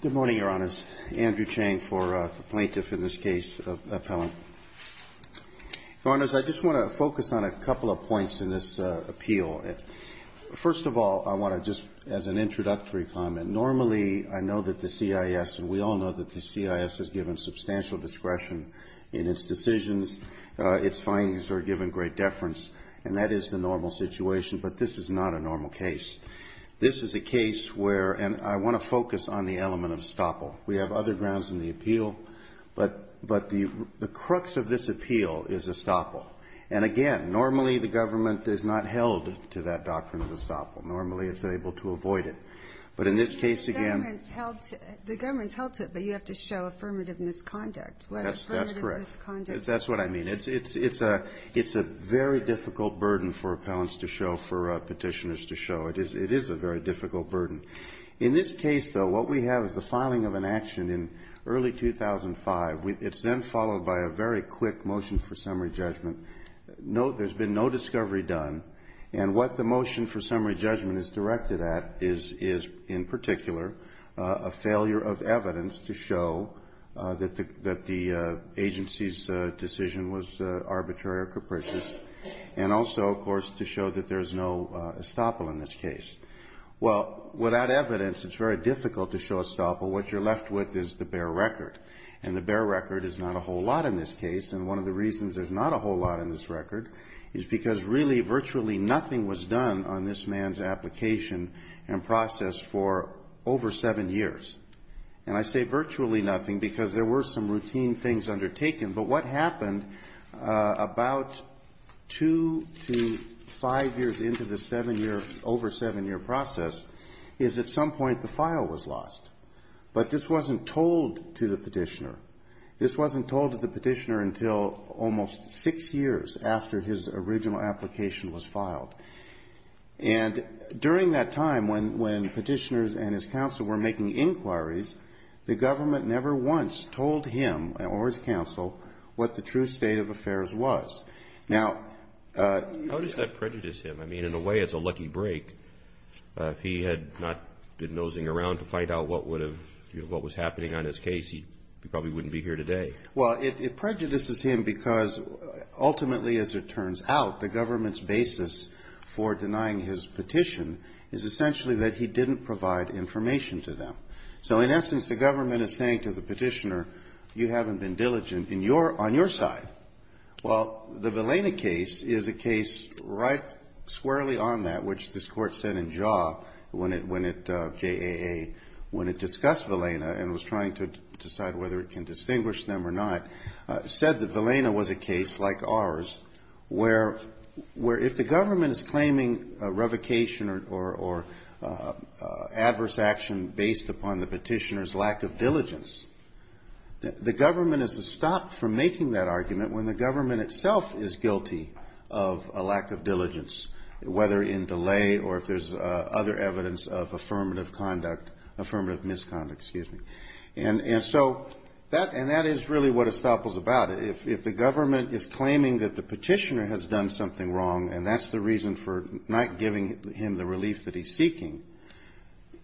Good morning, Your Honors. Andrew Chang for the plaintiff in this case, appellant. Your Honors, I just want to focus on a couple of points in this appeal. First of all, I want to just, as an introductory comment, normally I know that the CIS, and we all know that the CIS has given substantial discretion in its decisions, its findings are given great deference, and that is the normal situation, but this is not a normal case. This is a case where, and I want to focus on the element of estoppel. We have other grounds in the appeal, but the crux of this appeal is estoppel. And again, normally the government is not held to that doctrine of estoppel. Normally it's able to avoid it. But in this case again the government's held to it, but you have to show affirmative misconduct. That's correct. That's what I mean. It's a very difficult burden for appellants to show, for Petitioners to show. It is a very difficult burden. In this case, though, what we have is the filing of an action in early 2005. It's then followed by a very quick motion for summary judgment. There's been no discovery done, and what the motion for summary judgment is directed at is, in particular, a failure of evidence to show that the agency's decision was arbitrary or capricious, and also, of course, to show that there is no estoppel in this case. Well, without evidence, it's very difficult to show estoppel. What you're left with is the bare record. And the bare record is not a whole lot in this case, and one of the reasons there's not a whole lot in this record is because really virtually nothing was done on this man's application and process for over seven years. And I say virtually nothing because there were some routine things undertaken, but what happened about two to five years into the seven-year, over-seven-year process is at some point the file was lost. But this wasn't told to the Petitioner. This wasn't told to the Petitioner until almost six years after his original application was filed. And during that time, when Petitioners and his counsel were making inquiries, the government never once told him or his counsel what the true state of affairs was. Now, you've got to be careful. How does that prejudice him? I mean, in a way, it's a lucky break. If he had not been nosing around to find out what would have been happening on his case, he probably wouldn't be here today. Well, it prejudices him because ultimately, as it turns out, the government's basis for denying his petition is essentially that he didn't provide information to them. So in essence, the government is saying to the Petitioner, you haven't been diligent on your side. Well, the Villena case is a case right squarely on that, which this Court said in Jaw when it, JAA, when it discussed Villena and was trying to decide whether it can distinguish them or not. It said that Villena was a case like ours where if the government is claiming revocation or adverse action based upon the Petitioner's lack of diligence, the government is to stop from making that argument when the government itself is guilty of a lack of diligence, whether in delay or if there's other evidence of affirmative misconduct. And so that, and that is really what estoppels about it. If the government is claiming that the Petitioner has done something wrong, and that's the reason for not giving him the relief that he's seeking,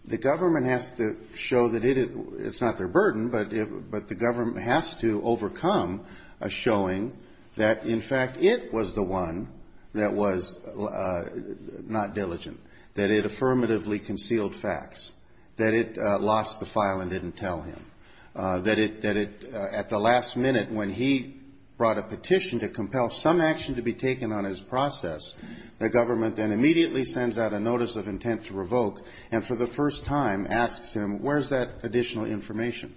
the government has to show that it's not their burden, but the government has to overcome a showing that, in fact, it was the one that was not diligent. That it affirmatively concealed facts, that it lost the file and didn't tell him, that it, that it, at the last minute when he brought a petition to compel some action to be taken on his process, the government then immediately sends out a notice of intent to revoke and for the first time asks him, where's that additional information?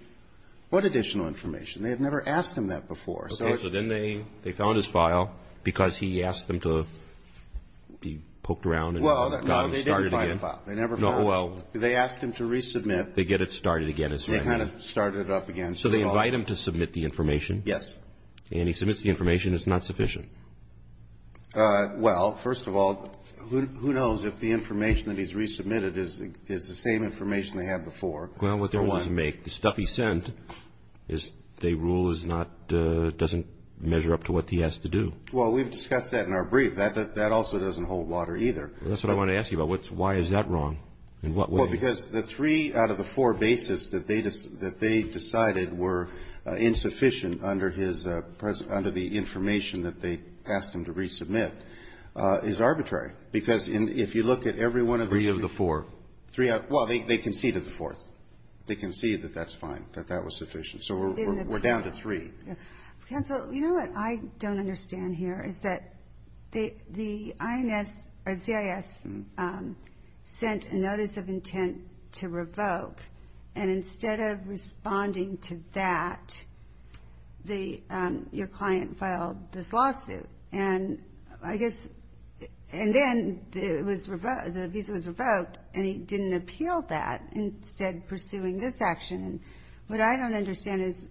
What additional information? They have never asked him that before. Okay. So then they, they found his file because he asked them to be poked around and got him started again. Well, no, they didn't find the file. They never found it. No, well. They asked him to resubmit. They get it started again. They kind of started it up again. So they invite him to submit the information. Yes. And he submits the information. It's not sufficient. Well, first of all, who knows if the information that he's resubmitted is the same information they had before. Well, what they want to make, the stuff he sent is, they rule is not, doesn't measure up to what he has to do. Well, we've discussed that in our brief. That also doesn't hold water either. That's what I wanted to ask you about. Why is that wrong? Well, because the three out of the four basis that they decided were insufficient under his, under the information that they asked him to resubmit is arbitrary. Because if you look at every one of the... Three of the four. Well, they conceded the fourth. They conceded that that's fine, that that was sufficient. So we're down to three. Counsel, you know what I don't understand here is that the INS or CIS sent a notice of intent to revoke. And instead of responding to that, your client filed this lawsuit. And I guess, and then it was revoked, the visa was revoked, and he didn't appeal that, instead pursuing this action. And what I don't understand is,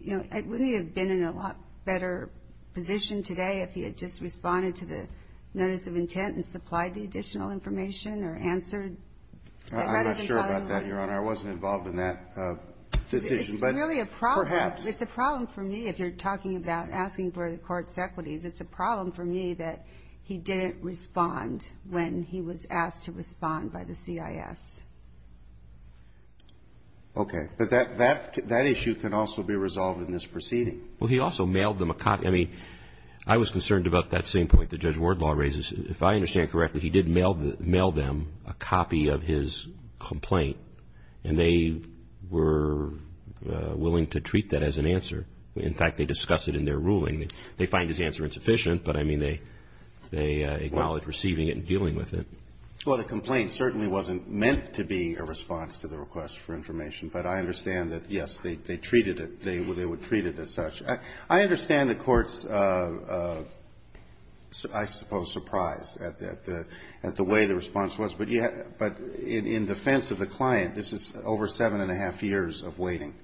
you know, wouldn't he have been in a lot better position today if he had just responded to the notice of intent and supplied the additional information or answered? I'm not sure about that, Your Honor. I wasn't involved in that decision. It's really a problem. Perhaps. It's a problem for me if you're talking about asking for the court's equities. It's a problem for me that he didn't respond when he was asked to respond by the CIS. Okay. But that issue can also be resolved in this proceeding. Well, he also mailed them a copy. I mean, I was concerned about that same point that Judge Wardlaw raises. If I understand correctly, he did mail them a copy of his complaint, and they were willing to treat that as an answer. In fact, they discussed it in their ruling. They find his answer insufficient, but, I mean, they acknowledge receiving it and dealing with it. Well, the complaint certainly wasn't meant to be a response to the request for information, but I understand that, yes, they treated it. They would treat it as such. I understand the court's, I suppose, surprise at the way the response was. But in defense of the client, this is over seven and a half years of waiting.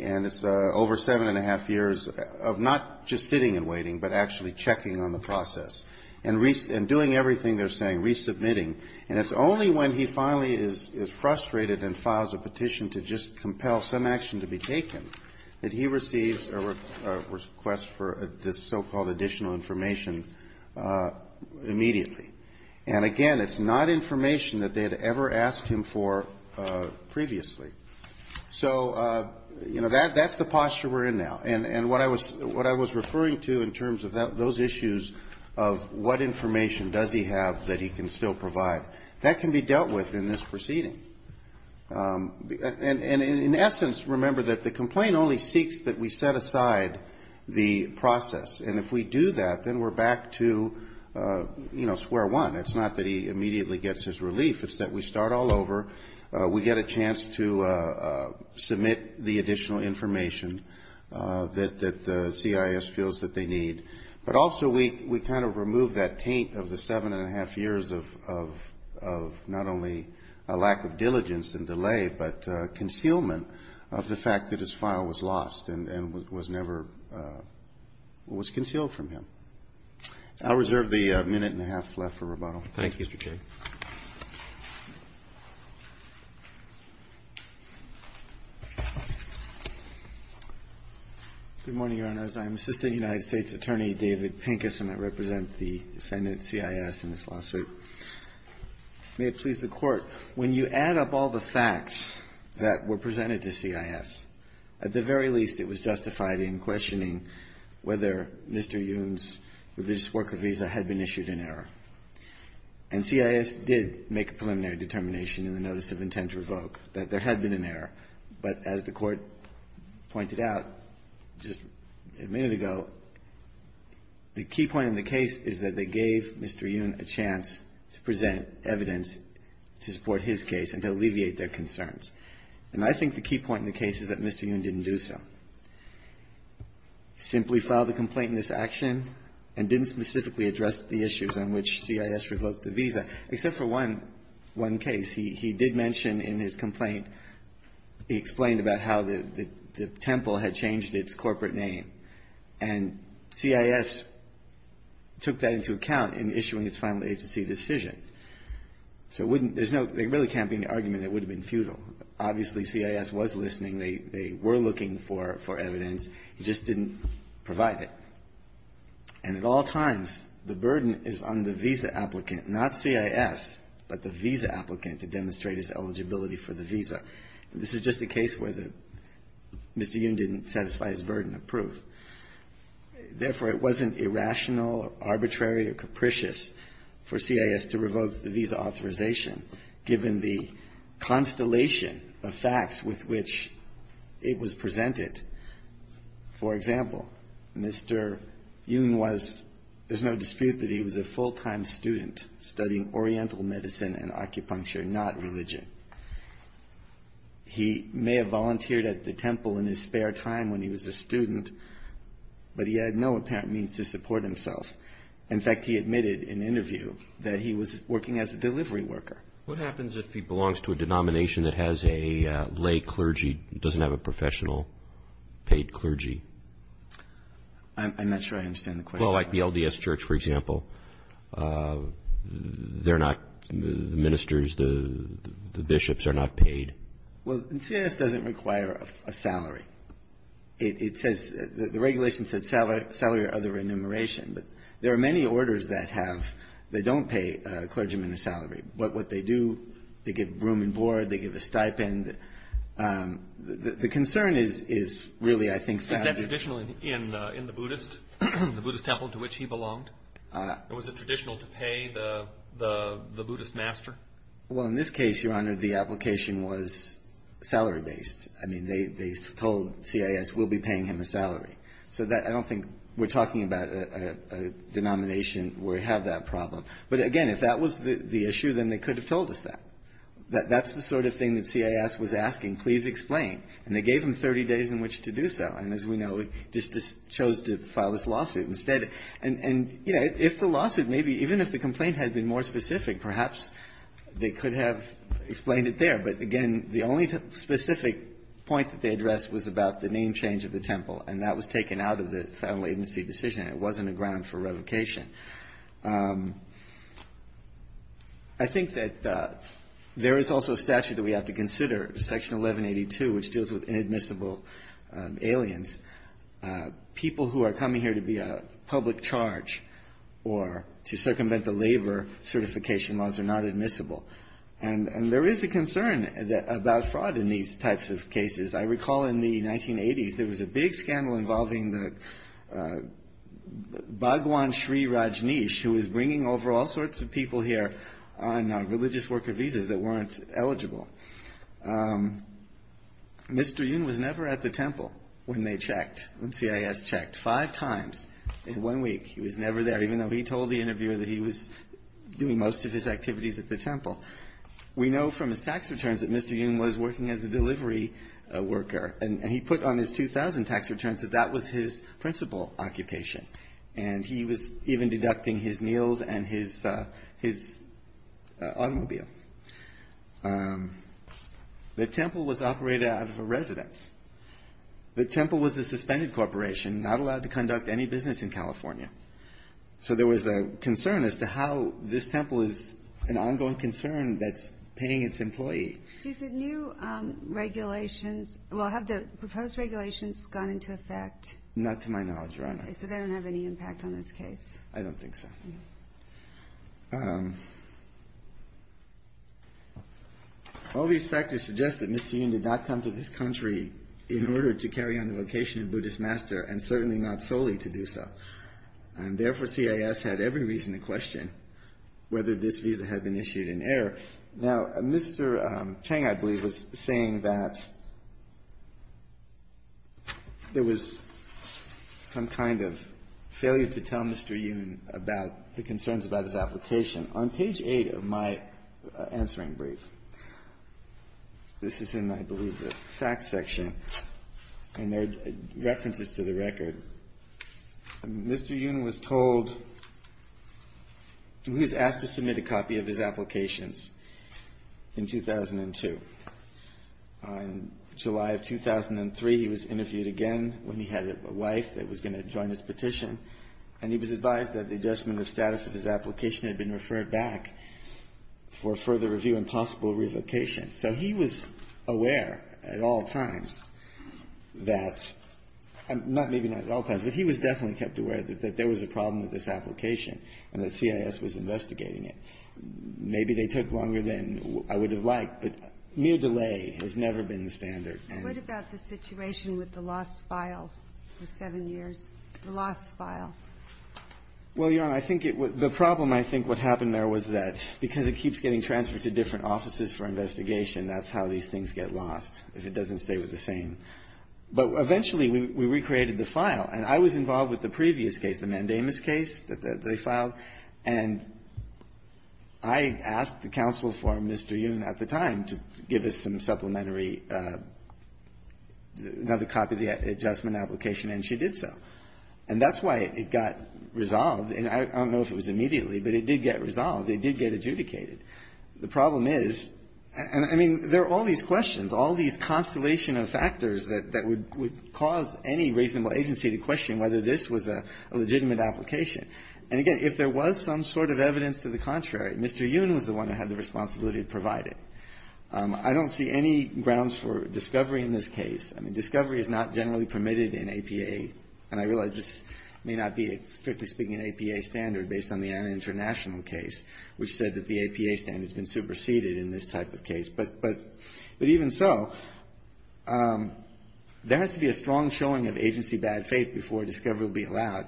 And it's over seven and a half years of not just sitting and waiting, but actually checking on the process and doing everything they're saying, resubmitting, and it's only when he finally is frustrated and files a petition to just compel some action to be taken that he receives a request for this so-called additional information immediately. And, again, it's not information that they had ever asked him for previously. So, you know, that's the posture we're in now. And what I was referring to in terms of those issues of what information does he have that he can still provide, that can be dealt with in this proceeding. And, in essence, remember that the complaint only seeks that we set aside the process. And if we do that, then we're back to, you know, square one. It's not that he immediately gets his relief. It's that we start all over. We get a chance to submit the additional information that the CIS feels that they need. But also we kind of remove that taint of the seven and a half years of not only a lack of diligence and delay, but concealment of the fact that his file was lost and was never was concealed from him. I'll reserve the minute and a half left for rebuttal. Thank you, Mr. Chair. Thank you. Good morning, Your Honors. I'm Assistant United States Attorney David Pincus, and I represent the defendant, CIS, in this lawsuit. May it please the Court, when you add up all the facts that were presented to CIS, at the very least it was justified in questioning whether Mr. Yoon's religious worker visa had been issued in error. And CIS did make a preliminary determination in the notice of intent to revoke that there had been an error. But as the Court pointed out just a minute ago, the key point in the case is that they gave Mr. Yoon a chance to present evidence to support his case and to alleviate their concerns. And I think the key point in the case is that Mr. Yoon didn't do so. He simply filed a complaint in this action and didn't specifically address the issues on which CIS revoked the visa, except for one case. He did mention in his complaint, he explained about how the temple had changed its corporate name, and CIS took that into account in issuing its final agency decision. So it wouldn't be no – there really can't be any argument that it would have been futile. Obviously, CIS was listening. They were looking for evidence. He just didn't provide it. And at all times, the burden is on the visa applicant, not CIS, but the visa applicant, to demonstrate his eligibility for the visa. This is just a case where Mr. Yoon didn't satisfy his burden of proof. Therefore, it wasn't irrational, arbitrary, or capricious for CIS to revoke the visa authorization, given the constellation of facts with which it was presented. For example, Mr. Yoon was – there's no dispute that he was a full-time student studying Oriental medicine and acupuncture, not religion. He may have volunteered at the temple in his spare time when he was a student, but he had no apparent means to support himself. In fact, he admitted in an interview that he was working as a delivery worker. What happens if he belongs to a denomination that has a lay clergy, doesn't have a professional paid clergy? I'm not sure I understand the question. Well, like the LDS Church, for example. They're not – the ministers, the bishops are not paid. Well, CIS doesn't require a salary. It says – the regulation said salary or other remuneration. But there are many orders that have – that don't pay a clergyman a salary. But what they do, they give room and board, they give a stipend. The concern is really, I think, that – Was that traditional in the Buddhist, the Buddhist temple to which he belonged? Or was it traditional to pay the Buddhist master? Well, in this case, Your Honor, the application was salary-based. I mean, they told CIS, we'll be paying him a salary. So that – I don't think we're talking about a denomination where we have that problem. But again, if that was the issue, then they could have told us that. That's the sort of thing that CIS was asking, please explain. And they gave him 30 days in which to do so. And as we know, he just chose to file this lawsuit instead. And, you know, if the lawsuit maybe – even if the complaint had been more specific, perhaps they could have explained it there. But again, the only specific point that they addressed was about the name change of the temple. And that was taken out of the federal agency decision. It wasn't a ground for revocation. I think that there is also a statute that we have to consider, Section 1182, which deals with inadmissible aliens. People who are coming here to be a public charge or to circumvent the labor certification laws are not admissible. And there is a concern about fraud in these types of cases. I recall in the 1980s there was a big scandal involving the Bhagwan Sri Rajneesh, who was bringing over all sorts of people here on religious worker visas that weren't eligible. Mr. Yun was never at the temple when they checked, when CIS checked five times in one week. He was never there, even though he told the interviewer that he was doing most of his activities at the temple. We know from his tax returns that Mr. Yun was working as a delivery worker. And he put on his 2000 tax returns that that was his principal occupation. And he was even deducting his meals and his automobile. The temple was operated out of a residence. The temple was a suspended corporation, not allowed to conduct any business in California. So there was a concern as to how this temple is an ongoing concern that's paying its employee. Do the new regulations or have the proposed regulations gone into effect? Not to my knowledge, Your Honor. So they don't have any impact on this case? I don't think so. All these factors suggest that Mr. Yun did not come to this country in order to carry on the vocation of Buddhist master, and certainly not solely to do so. And therefore, CIS had every reason to question whether this visa had been issued in error. Now, Mr. Chang, I believe, was saying that there was some kind of failure to tell Mr. Yun about the concerns about his application. On page 8 of my answering brief, this is in, I believe, the facts section, and there are references to the record. Mr. Yun was asked to submit a copy of his applications in 2002. In July of 2003, he was interviewed again when he had a wife that was going to join his petition, and he was advised that the adjustment of status of his application had been referred back for further review and possible relocation. So he was aware at all times that, not maybe not at all times, but he was definitely kept aware that there was a problem with this application and that CIS was investigating it. Maybe they took longer than I would have liked, but mere delay has never been the standard. What about the situation with the lost file for seven years, the lost file? Well, Your Honor, I think it was the problem, I think, what happened there was that because it keeps getting transferred to different offices for investigation, that's how these things get lost, if it doesn't stay with the same. But eventually, we recreated the file. And I was involved with the previous case, the Mandamus case that they filed, and I asked the counsel for Mr. Yun at the time to give us some supplementary, another copy of the adjustment application, and she did so. And that's why it got resolved. And I don't know if it was immediately, but it did get resolved. They did get adjudicated. The problem is, and I mean, there are all these questions, all these constellation of factors that would cause any reasonable agency to question whether this was a legitimate application. And again, if there was some sort of evidence to the contrary, Mr. Yun was the one who had the responsibility to provide it. I don't see any grounds for discovery in this case. I mean, discovery is not generally permitted in APA, and I realize this may not be, strictly speaking, an APA standard based on the Anna International case, which said that the APA standard has been superseded in this type of case. But even so, there has to be a strong showing of agency bad faith before discovery will be allowed.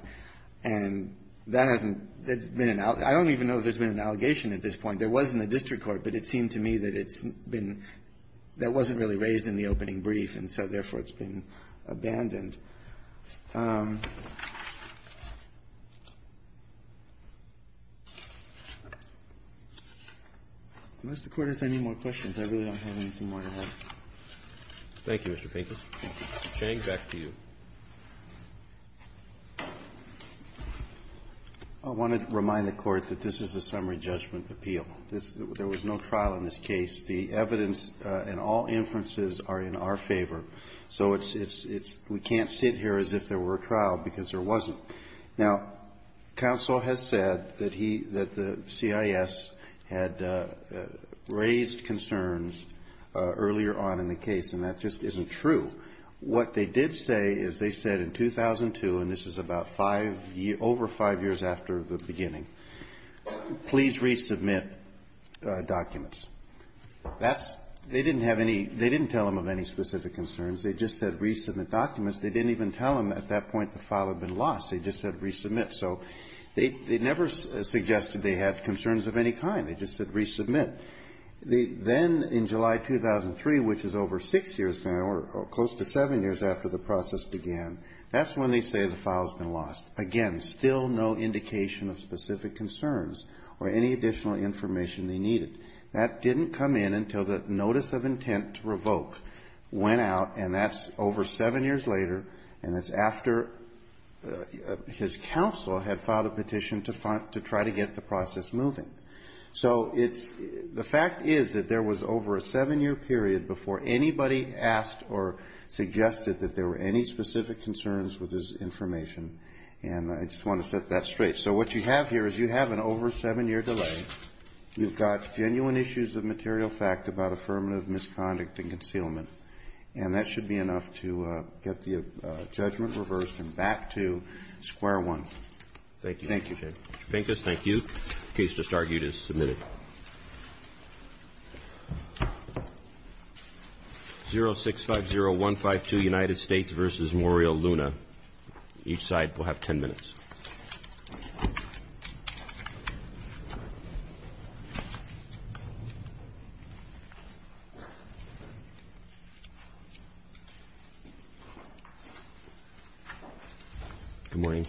And that hasn't been an allegation. I don't even know if there's been an allegation at this point. There was in the district court, but it seemed to me that it's been — that wasn't really raised in the opening brief, and so, therefore, it's been abandoned. Unless the Court has any more questions, I really don't have anything more to add. Roberts. Thank you, Mr. Pinker. Chang, back to you. I want to remind the Court that this is a summary judgment appeal. This — there was no trial in this case. The evidence and all inferences are in our favor. So it's — it's — we can't sit here as if there were a trial, because there wasn't. Now, counsel has said that he — that the CIS had raised concerns earlier on in the case, and that just isn't true. What they did say is they said in 2002, and this is about five — over five years after the beginning, please resubmit documents. That's — they didn't have any — they didn't tell him of any specific concerns. They just said resubmit documents. They didn't even tell him at that point the file had been lost. They just said resubmit. So they never suggested they had concerns of any kind. They just said resubmit. Then, in July 2003, which is over six years now, or close to seven years after the process began, that's when they say the file's been lost. Again, still no indication of specific concerns or any additional information they needed. That didn't come in until the notice of intent to revoke went out, and that's over seven years later, and it's after his counsel had filed a petition to find — to try to get the process moving. So it's — the fact is that there was over a seven-year period before anybody asked or suggested that there were any specific concerns with his information. And I just want to set that straight. So what you have here is you have an over-seven-year delay. You've got genuine issues of material fact about affirmative misconduct and concealment. And that should be enough to get the judgment reversed and back to square one. Thank you. Thank you, Jay. Mr. Pincus, thank you. The case just argued is submitted. 0650152, United States v. Memorial Luna. Each side will have 10 minutes. Thank you. Good morning.